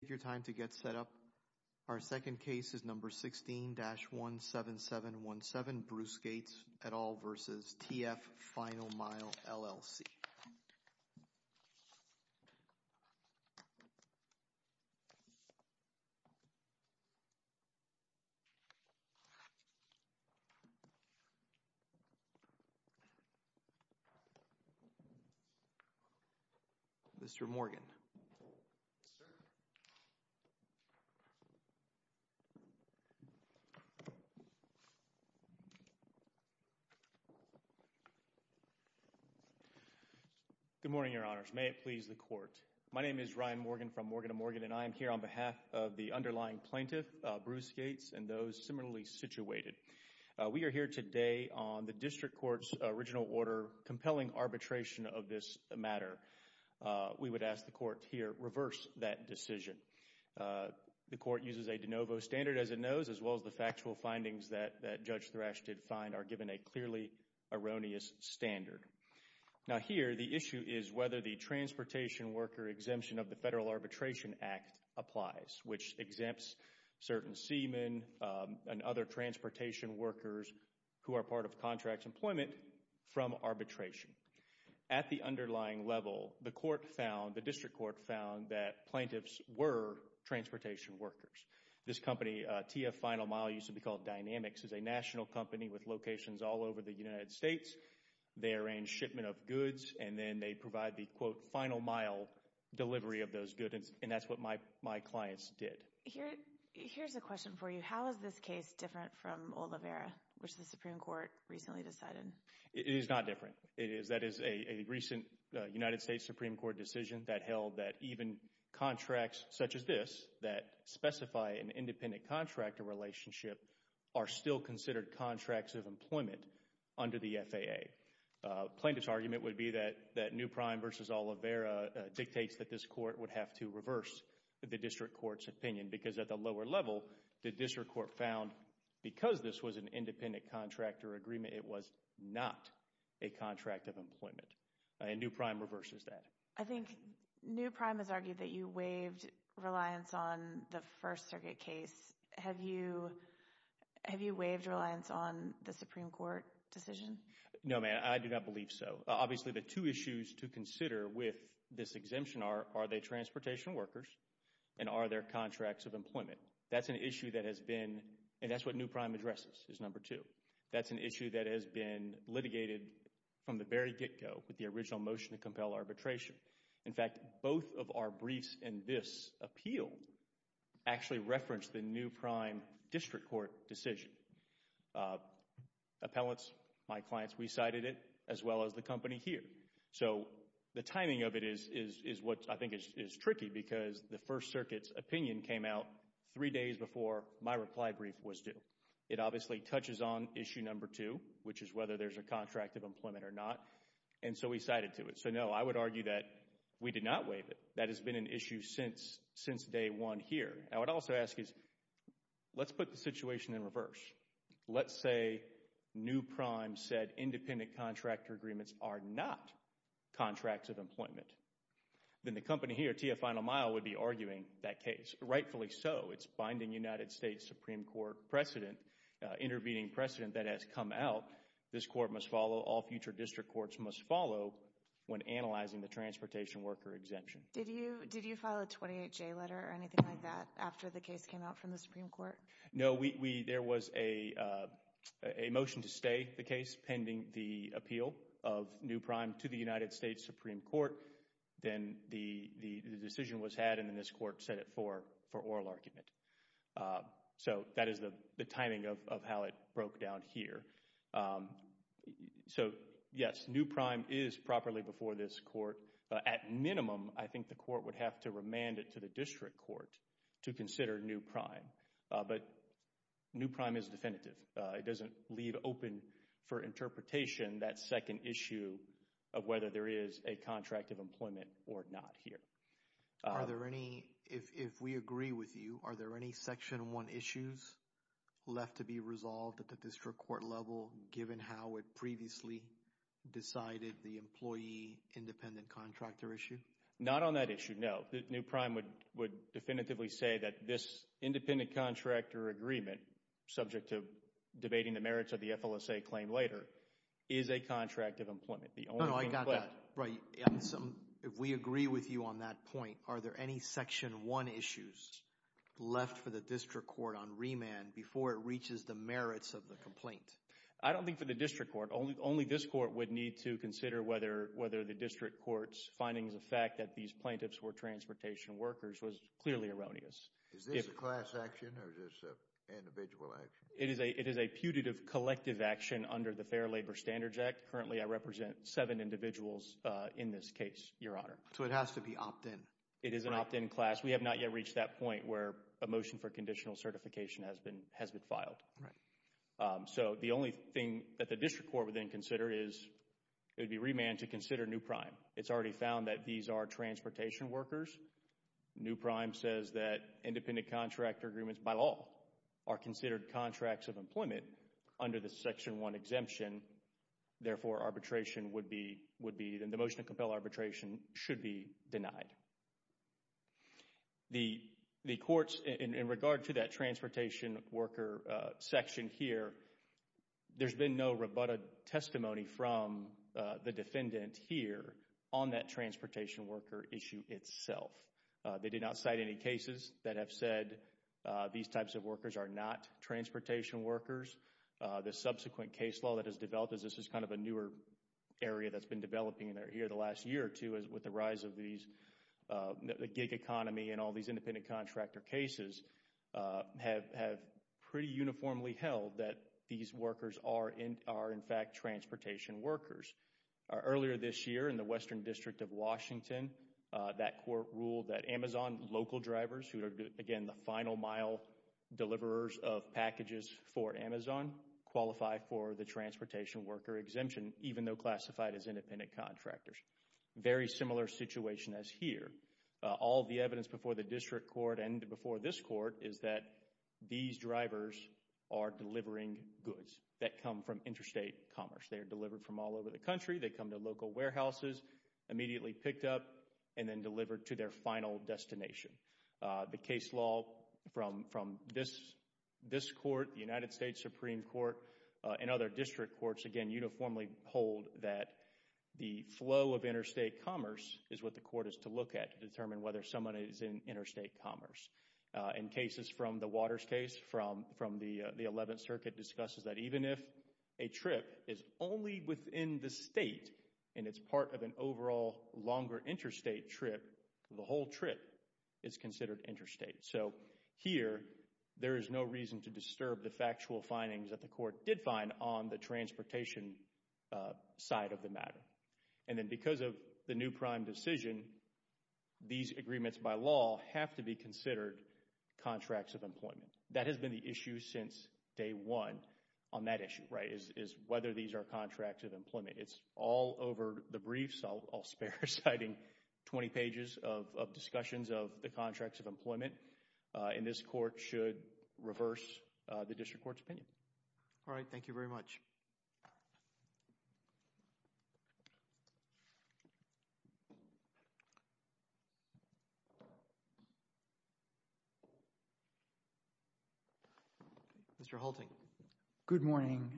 Take your time to get set up. Our second case is number 16-17717, Bruce Gates et al. v. TF Final Mile, LLC. Mr. Morgan. Yes, sir. Good morning, Your Honors. May it please the Court. My name is Ryan Morgan from Morgan & Morgan, and I am here on behalf of the underlying plaintiff, Bruce Gates, and those similarly situated. We are here today on the District Court's original order compelling arbitration of this matter. We would ask the Court here reverse that decision. The Court uses a de novo standard, as it knows, as well as the factual findings that Judge Thrash did find are given a clearly erroneous standard. Now here, the issue is whether the Transportation Worker Exemption of the Federal Arbitration Act applies, which exempts certain seamen and other transportation workers who are part of contracts employment from arbitration. At the underlying level, the Court found, the District Court found, that plaintiffs were transportation workers. This company, TF Final Mile, used to be called Dynamics, is a national company with locations all over the United States. They arrange shipment of goods, and then they provide the, quote, final mile delivery of those goods, and that's what my clients did. Here's a question for you. How is this case different from Oliveira, which the Supreme Court recently decided? It is not different. It is, that is a recent United States Supreme Court decision that held that even contracts such as this, that specify an independent contractor relationship, are still considered contracts of employment under the FAA. Plaintiff's argument would be that New Prime v. Oliveira dictates that this Court would have to reverse the District Court's opinion, because at the lower level, the District Court found, because this was an independent contractor agreement, it was not a contract of employment, and New Prime reverses that. I think New Prime has argued that you waived reliance on the First Circuit case. Have you waived reliance on the Supreme Court decision? No, ma'am. I do not believe so. Obviously, the two issues to consider with this exemption are, are they transportation workers, and are there contracts of employment? That's an issue that has been, and that's what New Prime addresses, is number two. That's an issue that has been litigated from the very get-go with the original motion to compel arbitration. In fact, both of our briefs in this appeal actually reference the New Prime District Court decision. Appellants, my clients, we cited it, as well as the company here. So, the timing of it is what I think is tricky, because the First Circuit's opinion came out three days before my reply brief was due. It obviously touches on issue number two, which is whether there's a contract of employment or not, and so we cited to it. So, no, I would argue that we did not waive it. That has been an issue since, since day one here. I would also ask is, let's put the situation in reverse. Let's say New Prime said independent contractor agreements are not contracts of employment. Then the company here, TIA Final Mile, would be arguing that case. Rightfully so. It's binding United States Supreme Court precedent, intervening precedent that has come out. This court must follow, all future district courts must follow when analyzing the transportation worker exemption. Did you file a 28-J letter or anything like that after the case came out from the Supreme Court? No, there was a motion to stay the case pending the appeal of New Prime to the United States Supreme Court. Then the decision was had, and then this court set it for oral argument. So, that is the timing of how it broke down here. So, yes, New Prime is properly before this court. At minimum, I think the court would have to remand it to the district court to consider New Prime. But New Prime is definitive. It doesn't leave open for interpretation that second issue of whether there is a contract of employment or not here. Are there any, if we agree with you, are there any Section 1 issues left to be resolved at the district court level, given how it previously decided the employee independent contractor issue? Not on that issue, no. New Prime would definitively say that this independent contractor agreement, subject to debating the merits of the FLSA claim later, is a contract of employment. No, no, I got that. If we agree with you on that point, are there any Section 1 issues left for the district court on remand before it reaches the merits of the complaint? I don't think for the district court. Only this court would need to consider whether the district court's findings of fact that these plaintiffs were transportation workers was clearly erroneous. Is this a class action or is this an individual action? It is a putative collective action under the Fair Labor Standards Act. Currently, I represent seven individuals in this case, Your Honor. So, it has to be opt-in? It is an opt-in class. We have not yet reached that point where a motion for conditional certification has been filed. Right. So, the only thing that the district court would then consider is it would be remand to consider New Prime. It's already found that these are transportation workers. New Prime says that independent contractor agreements, by law, are considered contracts of employment under the Section 1 exemption. Therefore, arbitration would be, the motion to compel arbitration should be denied. The courts, in regard to that transportation worker section here, there's been no rebutted testimony from the defendant here on that transportation worker issue itself. They did not cite any cases that have said these types of workers are not transportation workers. The subsequent case law that has developed, as this is kind of a newer area that's been developing here the last year or two, with the rise of the gig economy and all these independent contractor cases, have pretty uniformly held that these workers are in fact transportation workers. Earlier this year, in the Western District of Washington, that court ruled that Amazon local drivers, who are, again, the final mile deliverers of packages for Amazon, qualify for the transportation worker exemption, even though classified as independent contractors. Very similar situation as here. All the evidence before the district court and before this court is that these drivers are delivering goods that come from interstate commerce. They are delivered from all over the country. They come to local warehouses, immediately picked up, and then delivered to their final destination. The case law from this court, the United States Supreme Court, and other district courts, again, uniformly hold that the flow of interstate commerce is what the court is to look at to determine whether someone is in interstate commerce. In cases from the Waters case from the 11th Circuit, it discusses that even if a trip is only within the state, and it's part of an overall longer interstate trip, the whole trip is considered interstate. So here, there is no reason to disturb the factual findings that the court did find on the transportation side of the matter. And then because of the new prime decision, these agreements by law have to be considered contracts of employment. That has been the issue since day one on that issue, right, is whether these are contracts of employment. It's all over the briefs. I'll spare citing 20 pages of discussions of the contracts of employment, and this court should reverse the district court's opinion. All right. Thank you very much. Mr. Halting. Good morning.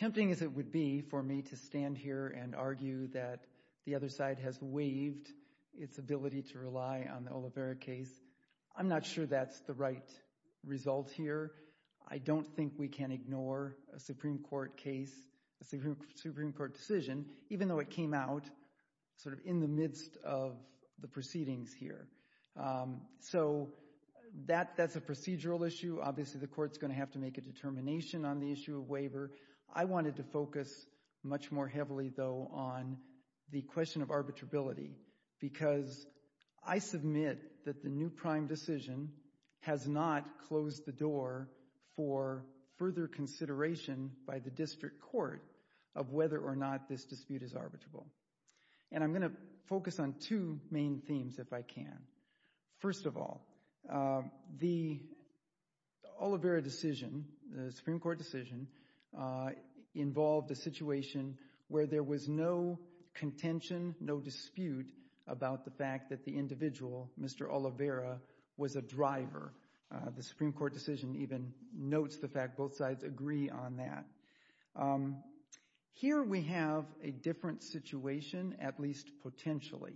Tempting as it would be for me to stand here and argue that the other side has waived its ability to rely on the Olivera case, I'm not sure that's the right result here. I don't think we can ignore a Supreme Court case, a Supreme Court decision, even though it came out sort of in the midst of the proceedings here. So that's a procedural issue. Obviously, the court's going to have to make a determination on the issue of waiver. I wanted to focus much more heavily, though, on the question of arbitrability, because I submit that the new prime decision has not closed the door for further consideration by the district court of whether or not this dispute is arbitrable. And I'm going to focus on two main themes, if I can. First of all, the Olivera decision, the Supreme Court decision, involved a situation where there was no contention, no dispute about the fact that the individual, Mr. Olivera, was a driver. The Supreme Court decision even notes the fact both sides agree on that. Here we have a different situation, at least potentially,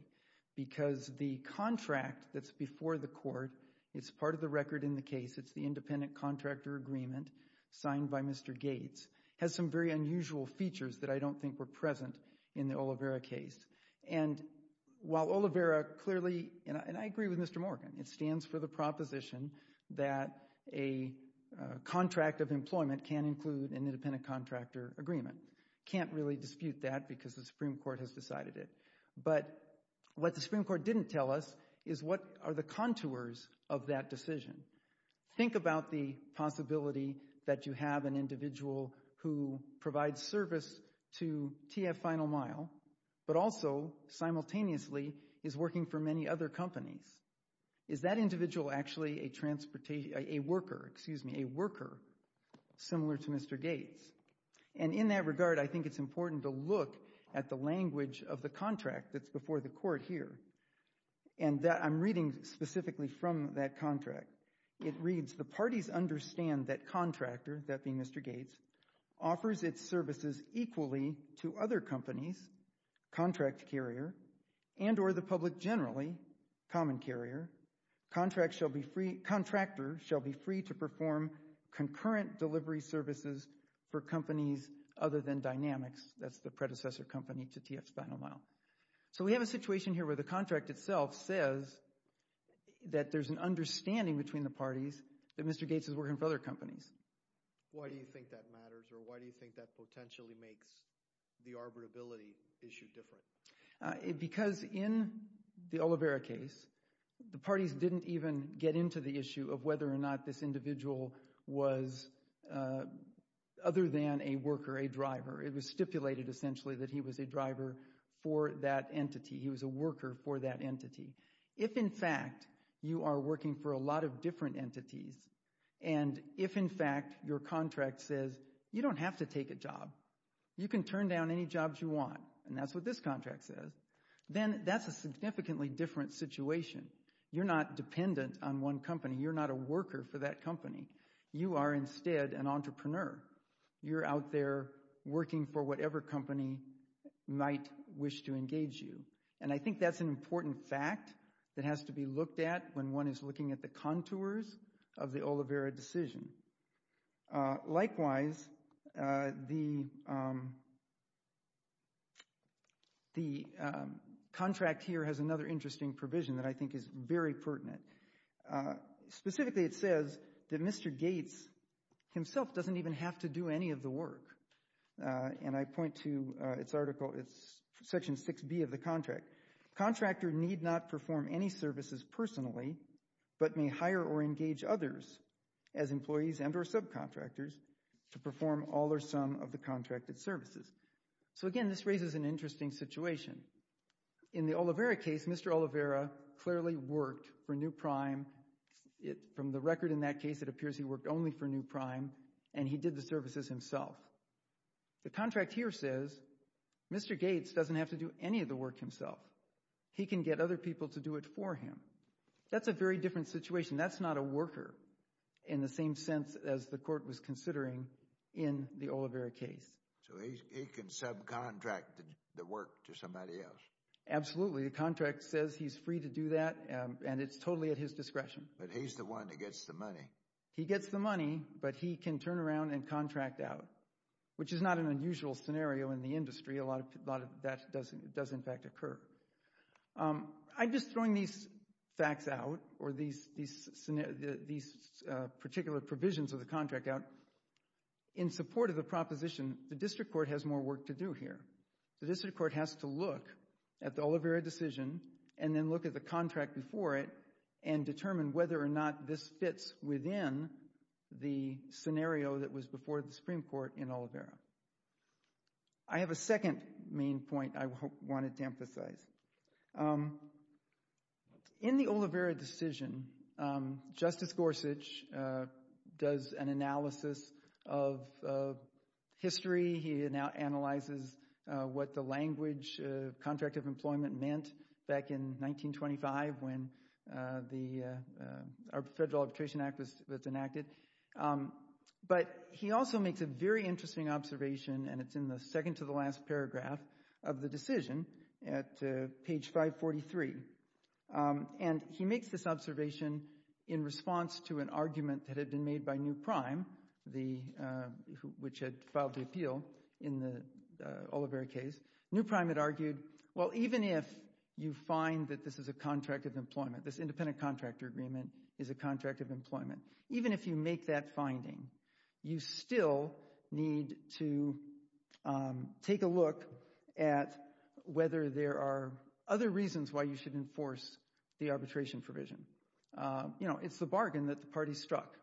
because the contract that's before the court, it's part of the record in the case, it's the independent contractor agreement signed by Mr. Gates, has some very unusual features that I don't think were present in the Olivera case. And while Olivera clearly, and I agree with Mr. Morgan, it stands for the proposition that a contract of employment can include an independent contractor agreement. Can't really dispute that because the Supreme Court has decided it. But what the Supreme Court didn't tell us is what are the contours of that decision. Think about the possibility that you have an individual who provides service to TF Final Mile, but also simultaneously is working for many other companies. Is that individual actually a worker similar to Mr. Gates? And in that regard, I think it's important to look at the language of the contract that's before the court here. And I'm reading specifically from that contract. It reads, the parties understand that contractor, that being Mr. Gates, offers its services equally to other companies, contract carrier, and or the public generally, common carrier. Contractor shall be free to perform concurrent delivery services for companies other than Dynamics. That's the predecessor company to TF Final Mile. So we have a situation here where the contract itself says that there's an understanding between the parties that Mr. Gates is working for other companies. Why do you think that matters or why do you think that potentially makes the arbitrability issue different? Because in the Olivera case, the parties didn't even get into the issue of whether or not this individual was other than a worker, a driver. It was stipulated essentially that he was a driver for that entity. He was a worker for that entity. If, in fact, you are working for a lot of different entities, and if, in fact, your contract says, you don't have to take a job, you can turn down any jobs you want, and that's what this contract says, then that's a significantly different situation. You're not dependent on one company. You're not a worker for that company. You are instead an entrepreneur. You're out there working for whatever company might wish to engage you, and I think that's an important fact that has to be looked at when one is looking at the contours of the Olivera decision. Likewise, the contract here has another interesting provision that I think is very pertinent. Specifically, it says that Mr. Gates himself doesn't even have to do any of the work, and I point to its article. It's Section 6B of the contract. Contractor need not perform any services personally but may hire or engage others as employees and or subcontractors to perform all or some of the contracted services. So, again, this raises an interesting situation. In the Olivera case, Mr. Olivera clearly worked for New Prime. From the record in that case, it appears he worked only for New Prime, and he did the services himself. The contract here says Mr. Gates doesn't have to do any of the work himself. He can get other people to do it for him. That's a very different situation. That's not a worker in the same sense as the court was considering in the Olivera case. So he can subcontract the work to somebody else? Absolutely. The contract says he's free to do that, and it's totally at his discretion. But he's the one that gets the money. He gets the money, but he can turn around and contract out, which is not an unusual scenario in the industry. A lot of that does, in fact, occur. I'm just throwing these facts out or these particular provisions of the contract out in support of the proposition. The district court has more work to do here. The district court has to look at the Olivera decision and then look at the contract before it and determine whether or not this fits within the scenario that was before the Supreme Court in Olivera. I have a second main point I wanted to emphasize. In the Olivera decision, Justice Gorsuch does an analysis of history. He now analyzes what the language of contract of employment meant back in 1925 when the Federal Arbitration Act was enacted. But he also makes a very interesting observation, and it's in the second to the last paragraph of the decision at page 543. He makes this observation in response to an argument that had been made by New Prime, which had filed the appeal in the Olivera case. New Prime had argued, well, even if you find that this is a contract of employment, this independent contractor agreement is a contract of employment, even if you make that finding, you still need to take a look at whether there are other reasons why you should enforce the arbitration provision. You know, it's the bargain that the party struck.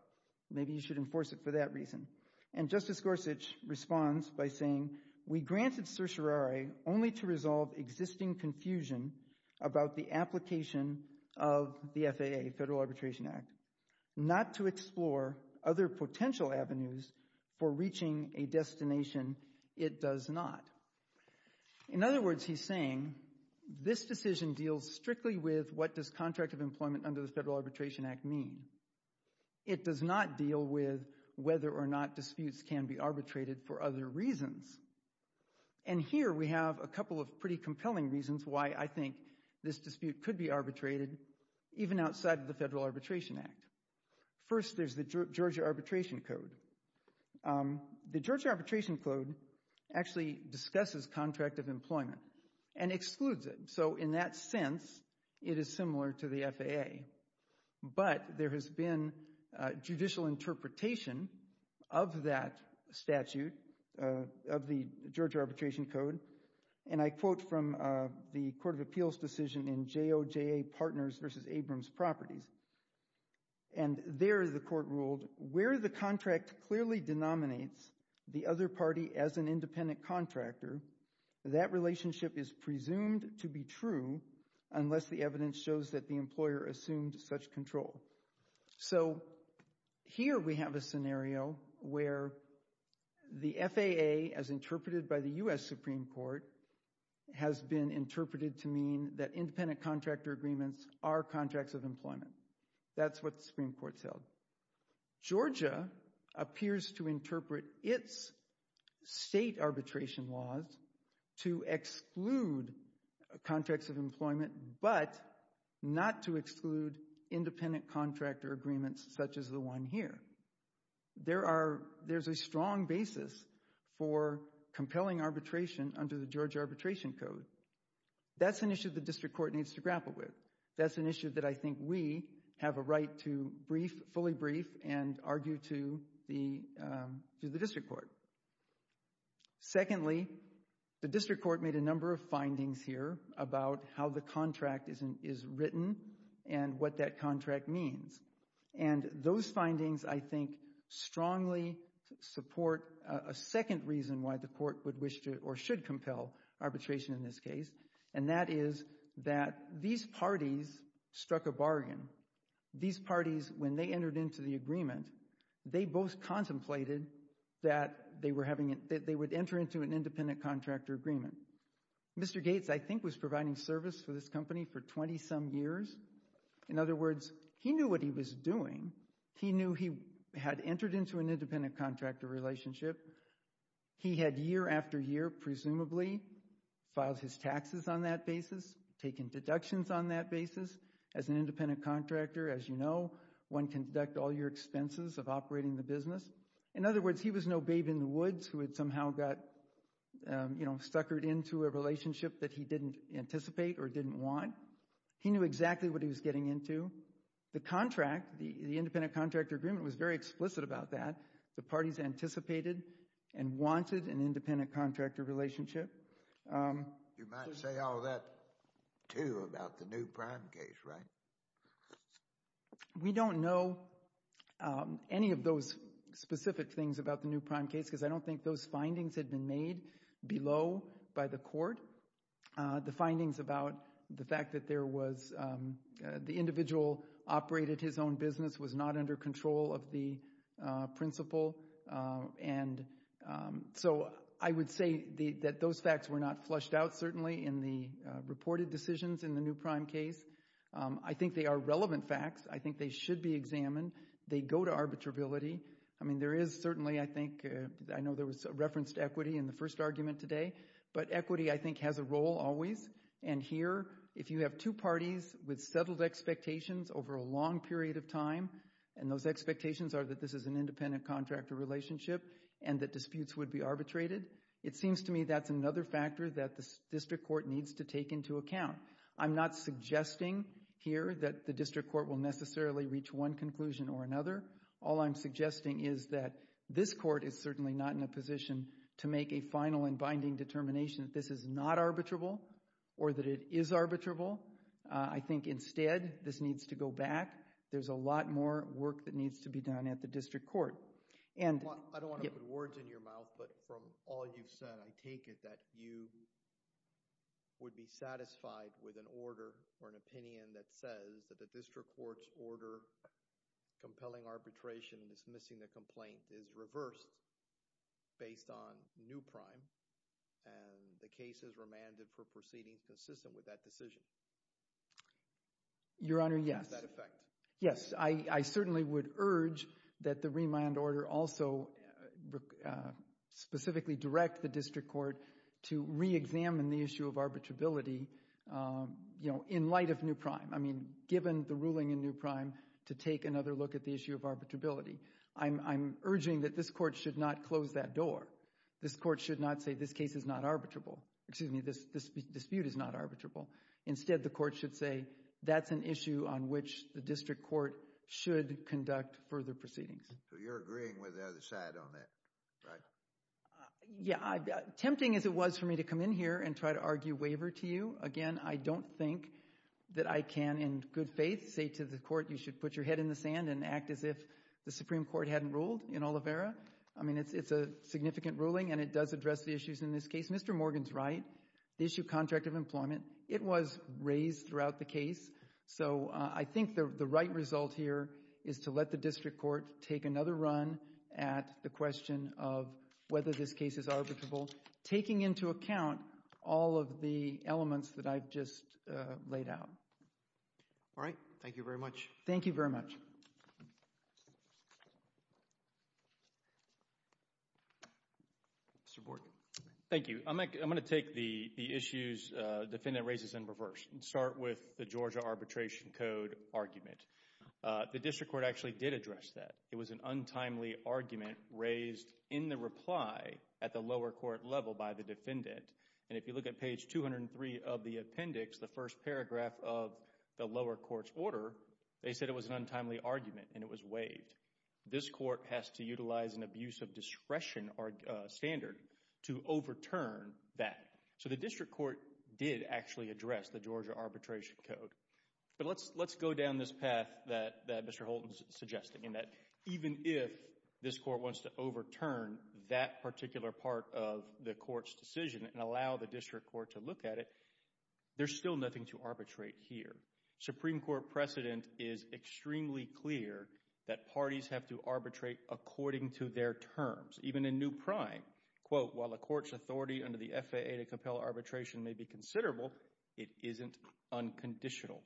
Maybe you should enforce it for that reason. And Justice Gorsuch responds by saying, we granted certiorari only to resolve existing confusion about the application of the FAA, Federal Arbitration Act, not to explore other potential avenues for reaching a destination it does not. In other words, he's saying this decision deals strictly with what does contract of employment under the Federal Arbitration Act mean. It does not deal with whether or not disputes can be arbitrated for other reasons. And here we have a couple of pretty compelling reasons why I think this dispute could be arbitrated, even outside of the Federal Arbitration Act. First, there's the Georgia Arbitration Code. The Georgia Arbitration Code actually discusses contract of employment and excludes it. So in that sense, it is similar to the FAA. But there has been judicial interpretation of that statute, of the Georgia Arbitration Code. And I quote from the Court of Appeals decision in JOJA Partners v. Abrams Properties. And there the court ruled, where the contract clearly denominates the other party as an independent contractor, that relationship is presumed to be true unless the evidence shows that the employer assumed such control. So here we have a scenario where the FAA, as interpreted by the U.S. Supreme Court, has been interpreted to mean that independent contractor agreements are contracts of employment. That's what the Supreme Court said. Georgia appears to interpret its state arbitration laws to exclude contracts of employment, but not to exclude independent contractor agreements such as the one here. There's a strong basis for compelling arbitration under the Georgia Arbitration Code. That's an issue the district court needs to grapple with. That's an issue that I think we have a right to fully brief and argue to the district court. Secondly, the district court made a number of findings here about how the contract is written and what that contract means. And those findings, I think, strongly support a second reason why the court would wish to or should compel arbitration in this case, and that is that these parties struck a bargain. These parties, when they entered into the agreement, they both contemplated that they would enter into an independent contractor agreement. Mr. Gates, I think, was providing service for this company for 20-some years. In other words, he knew what he was doing. He knew he had entered into an independent contractor relationship. He had year after year, presumably, filed his taxes on that basis, taken deductions on that basis. As an independent contractor, as you know, one can deduct all your expenses of operating the business. In other words, he was no babe in the woods who had somehow got, you know, suckered into a relationship that he didn't anticipate or didn't want. He knew exactly what he was getting into. The contract, the independent contractor agreement, was very explicit about that. The parties anticipated and wanted an independent contractor relationship. You might say all that, too, about the New Prime case, right? We don't know any of those specific things about the New Prime case because I don't think those findings had been made below by the court. The findings about the fact that there was the individual operated his own business, was not under control of the principal. And so I would say that those facts were not flushed out, certainly, in the reported decisions in the New Prime case. I think they are relevant facts. I think they should be examined. They go to arbitrability. I mean, there is certainly, I think, I know there was reference to equity in the first argument today, but equity, I think, has a role always. And here, if you have two parties with settled expectations over a long period of time, and those expectations are that this is an independent contractor relationship and that disputes would be arbitrated, it seems to me that's another factor that the district court needs to take into account. I'm not suggesting here that the district court will necessarily reach one conclusion or another. All I'm suggesting is that this court is certainly not in a position to make a final and binding determination that this is not arbitrable or that it is arbitrable. I think, instead, this needs to go back. There's a lot more work that needs to be done at the district court. I don't want to put words in your mouth, but from all you've said, I take it that you would be satisfied with an order or an opinion that says that the district court's order compelling arbitration, dismissing the complaint, is reversed based on New Prime and the case is remanded for proceedings consistent with that decision. Your Honor, yes. Yes, I certainly would urge that the remand order also specifically direct the district court to reexamine the issue of arbitrability in light of New Prime. I mean, given the ruling in New Prime to take another look at the issue of arbitrability, I'm urging that this court should not close that door. This court should not say this case is not arbitrable. Excuse me, this dispute is not arbitrable. Instead, the court should say that's an issue on which the district court should conduct further proceedings. So you're agreeing with the other side on that, right? Yeah, tempting as it was for me to come in here and try to argue waiver to you, again, I don't think that I can in good faith say to the court, you should put your head in the sand and act as if the Supreme Court hadn't ruled in Oliveira. I mean, it's a significant ruling, and it does address the issues in this case. Mr. Morgan's right. The issue of contract of employment, it was raised throughout the case, so I think the right result here is to let the district court take another run at the question of whether this case is arbitrable, taking into account all of the elements that I've just laid out. All right. Thank you very much. Thank you very much. Mr. Morgan. Thank you. I'm going to take the issues the defendant raises in reverse and start with the Georgia Arbitration Code argument. The district court actually did address that. It was an untimely argument raised in the reply at the lower court level by the defendant, and if you look at page 203 of the appendix, the first paragraph of the lower court's order, they said it was an untimely argument and it was waived. This court has to utilize an abuse of discretion standard to overturn that. So the district court did actually address the Georgia Arbitration Code. But let's go down this path that Mr. Holton is suggesting, in that even if this court wants to overturn that particular part of the court's decision and allow the district court to look at it, there's still nothing to arbitrate here. Supreme Court precedent is extremely clear that parties have to arbitrate according to their terms. Even in new prime, quote, while a court's authority under the FAA to compel arbitration may be considerable, it isn't unconditional.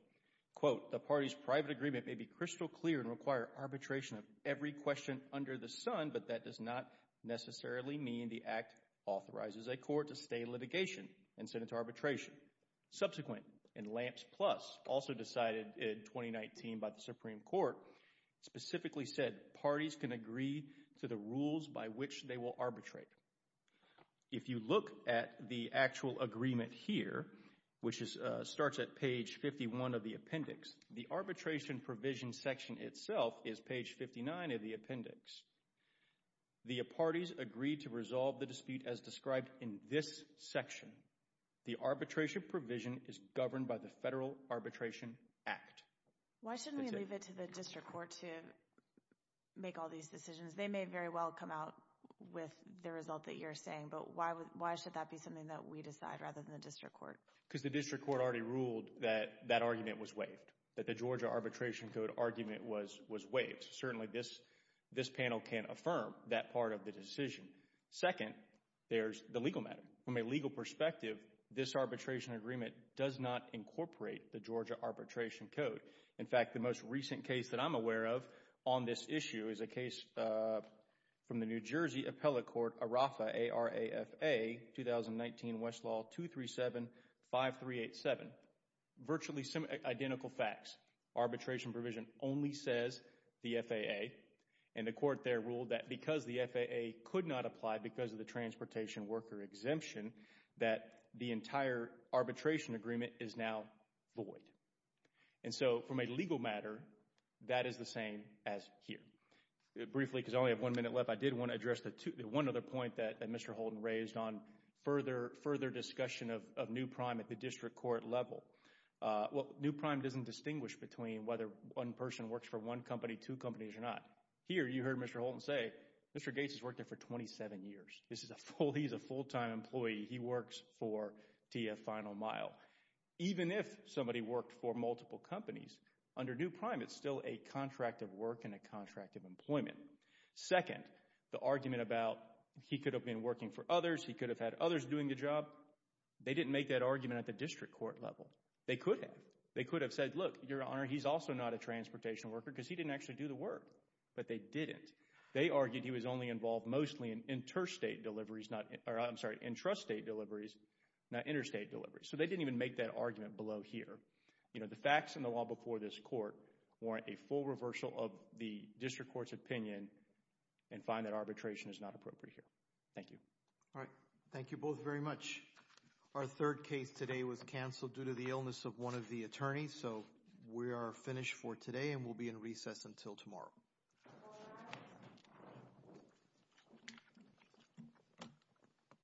Quote, the party's private agreement may be crystal clear and require arbitration of every question under the sun, but that does not necessarily mean the act authorizes a court to stay in litigation and send it to arbitration. Subsequent, in Lamps Plus, also decided in 2019 by the Supreme Court, specifically said parties can agree to the rules by which they will arbitrate. If you look at the actual agreement here, which starts at page 51 of the appendix, the arbitration provision section itself is page 59 of the appendix. The parties agreed to resolve the dispute as described in this section. The arbitration provision is governed by the Federal Arbitration Act. Why shouldn't we leave it to the district court to make all these decisions? They may very well come out with the result that you're saying, but why should that be something that we decide rather than the district court? Because the district court already ruled that that argument was waived, that the Georgia Arbitration Code argument was waived. Certainly this panel can't affirm that part of the decision. Second, there's the legal matter. From a legal perspective, this arbitration agreement does not incorporate the Georgia Arbitration Code. In fact, the most recent case that I'm aware of on this issue is a case from the New Jersey Appellate Court, ARAFA, A-R-A-F-A, 2019 Westlaw 2375387. Virtually identical facts. Arbitration provision only says the FAA, and the court there ruled that because the FAA could not apply because of the transportation worker exemption, that the entire arbitration agreement is now void. And so from a legal matter, that is the same as here. Briefly, because I only have one minute left, I did want to address the one other point that Mr. Holton raised on further discussion of new prime at the district court level. Well, new prime doesn't distinguish between whether one person works for one company, two companies, or not. Here, you heard Mr. Holton say, Mr. Gates has worked there for 27 years. He's a full-time employee. He works for TF Final Mile. Even if somebody worked for multiple companies, under new prime it's still a contract of work and a contract of employment. Second, the argument about he could have been working for others, he could have had others doing the job, they didn't make that argument at the district court level. They could have. They could have said, look, Your Honor, he's also not a transportation worker because he didn't actually do the work. But they didn't. They argued he was only involved mostly in interstate deliveries, or I'm sorry, intrastate deliveries, not interstate deliveries. So they didn't even make that argument below here. The facts in the law before this court warrant a full reversal of the district court's opinion and find that arbitration is not appropriate here. Thank you. All right. Thank you both very much. Our third case today was canceled due to the illness of one of the attorneys. So we are finished for today and we'll be in recess until tomorrow.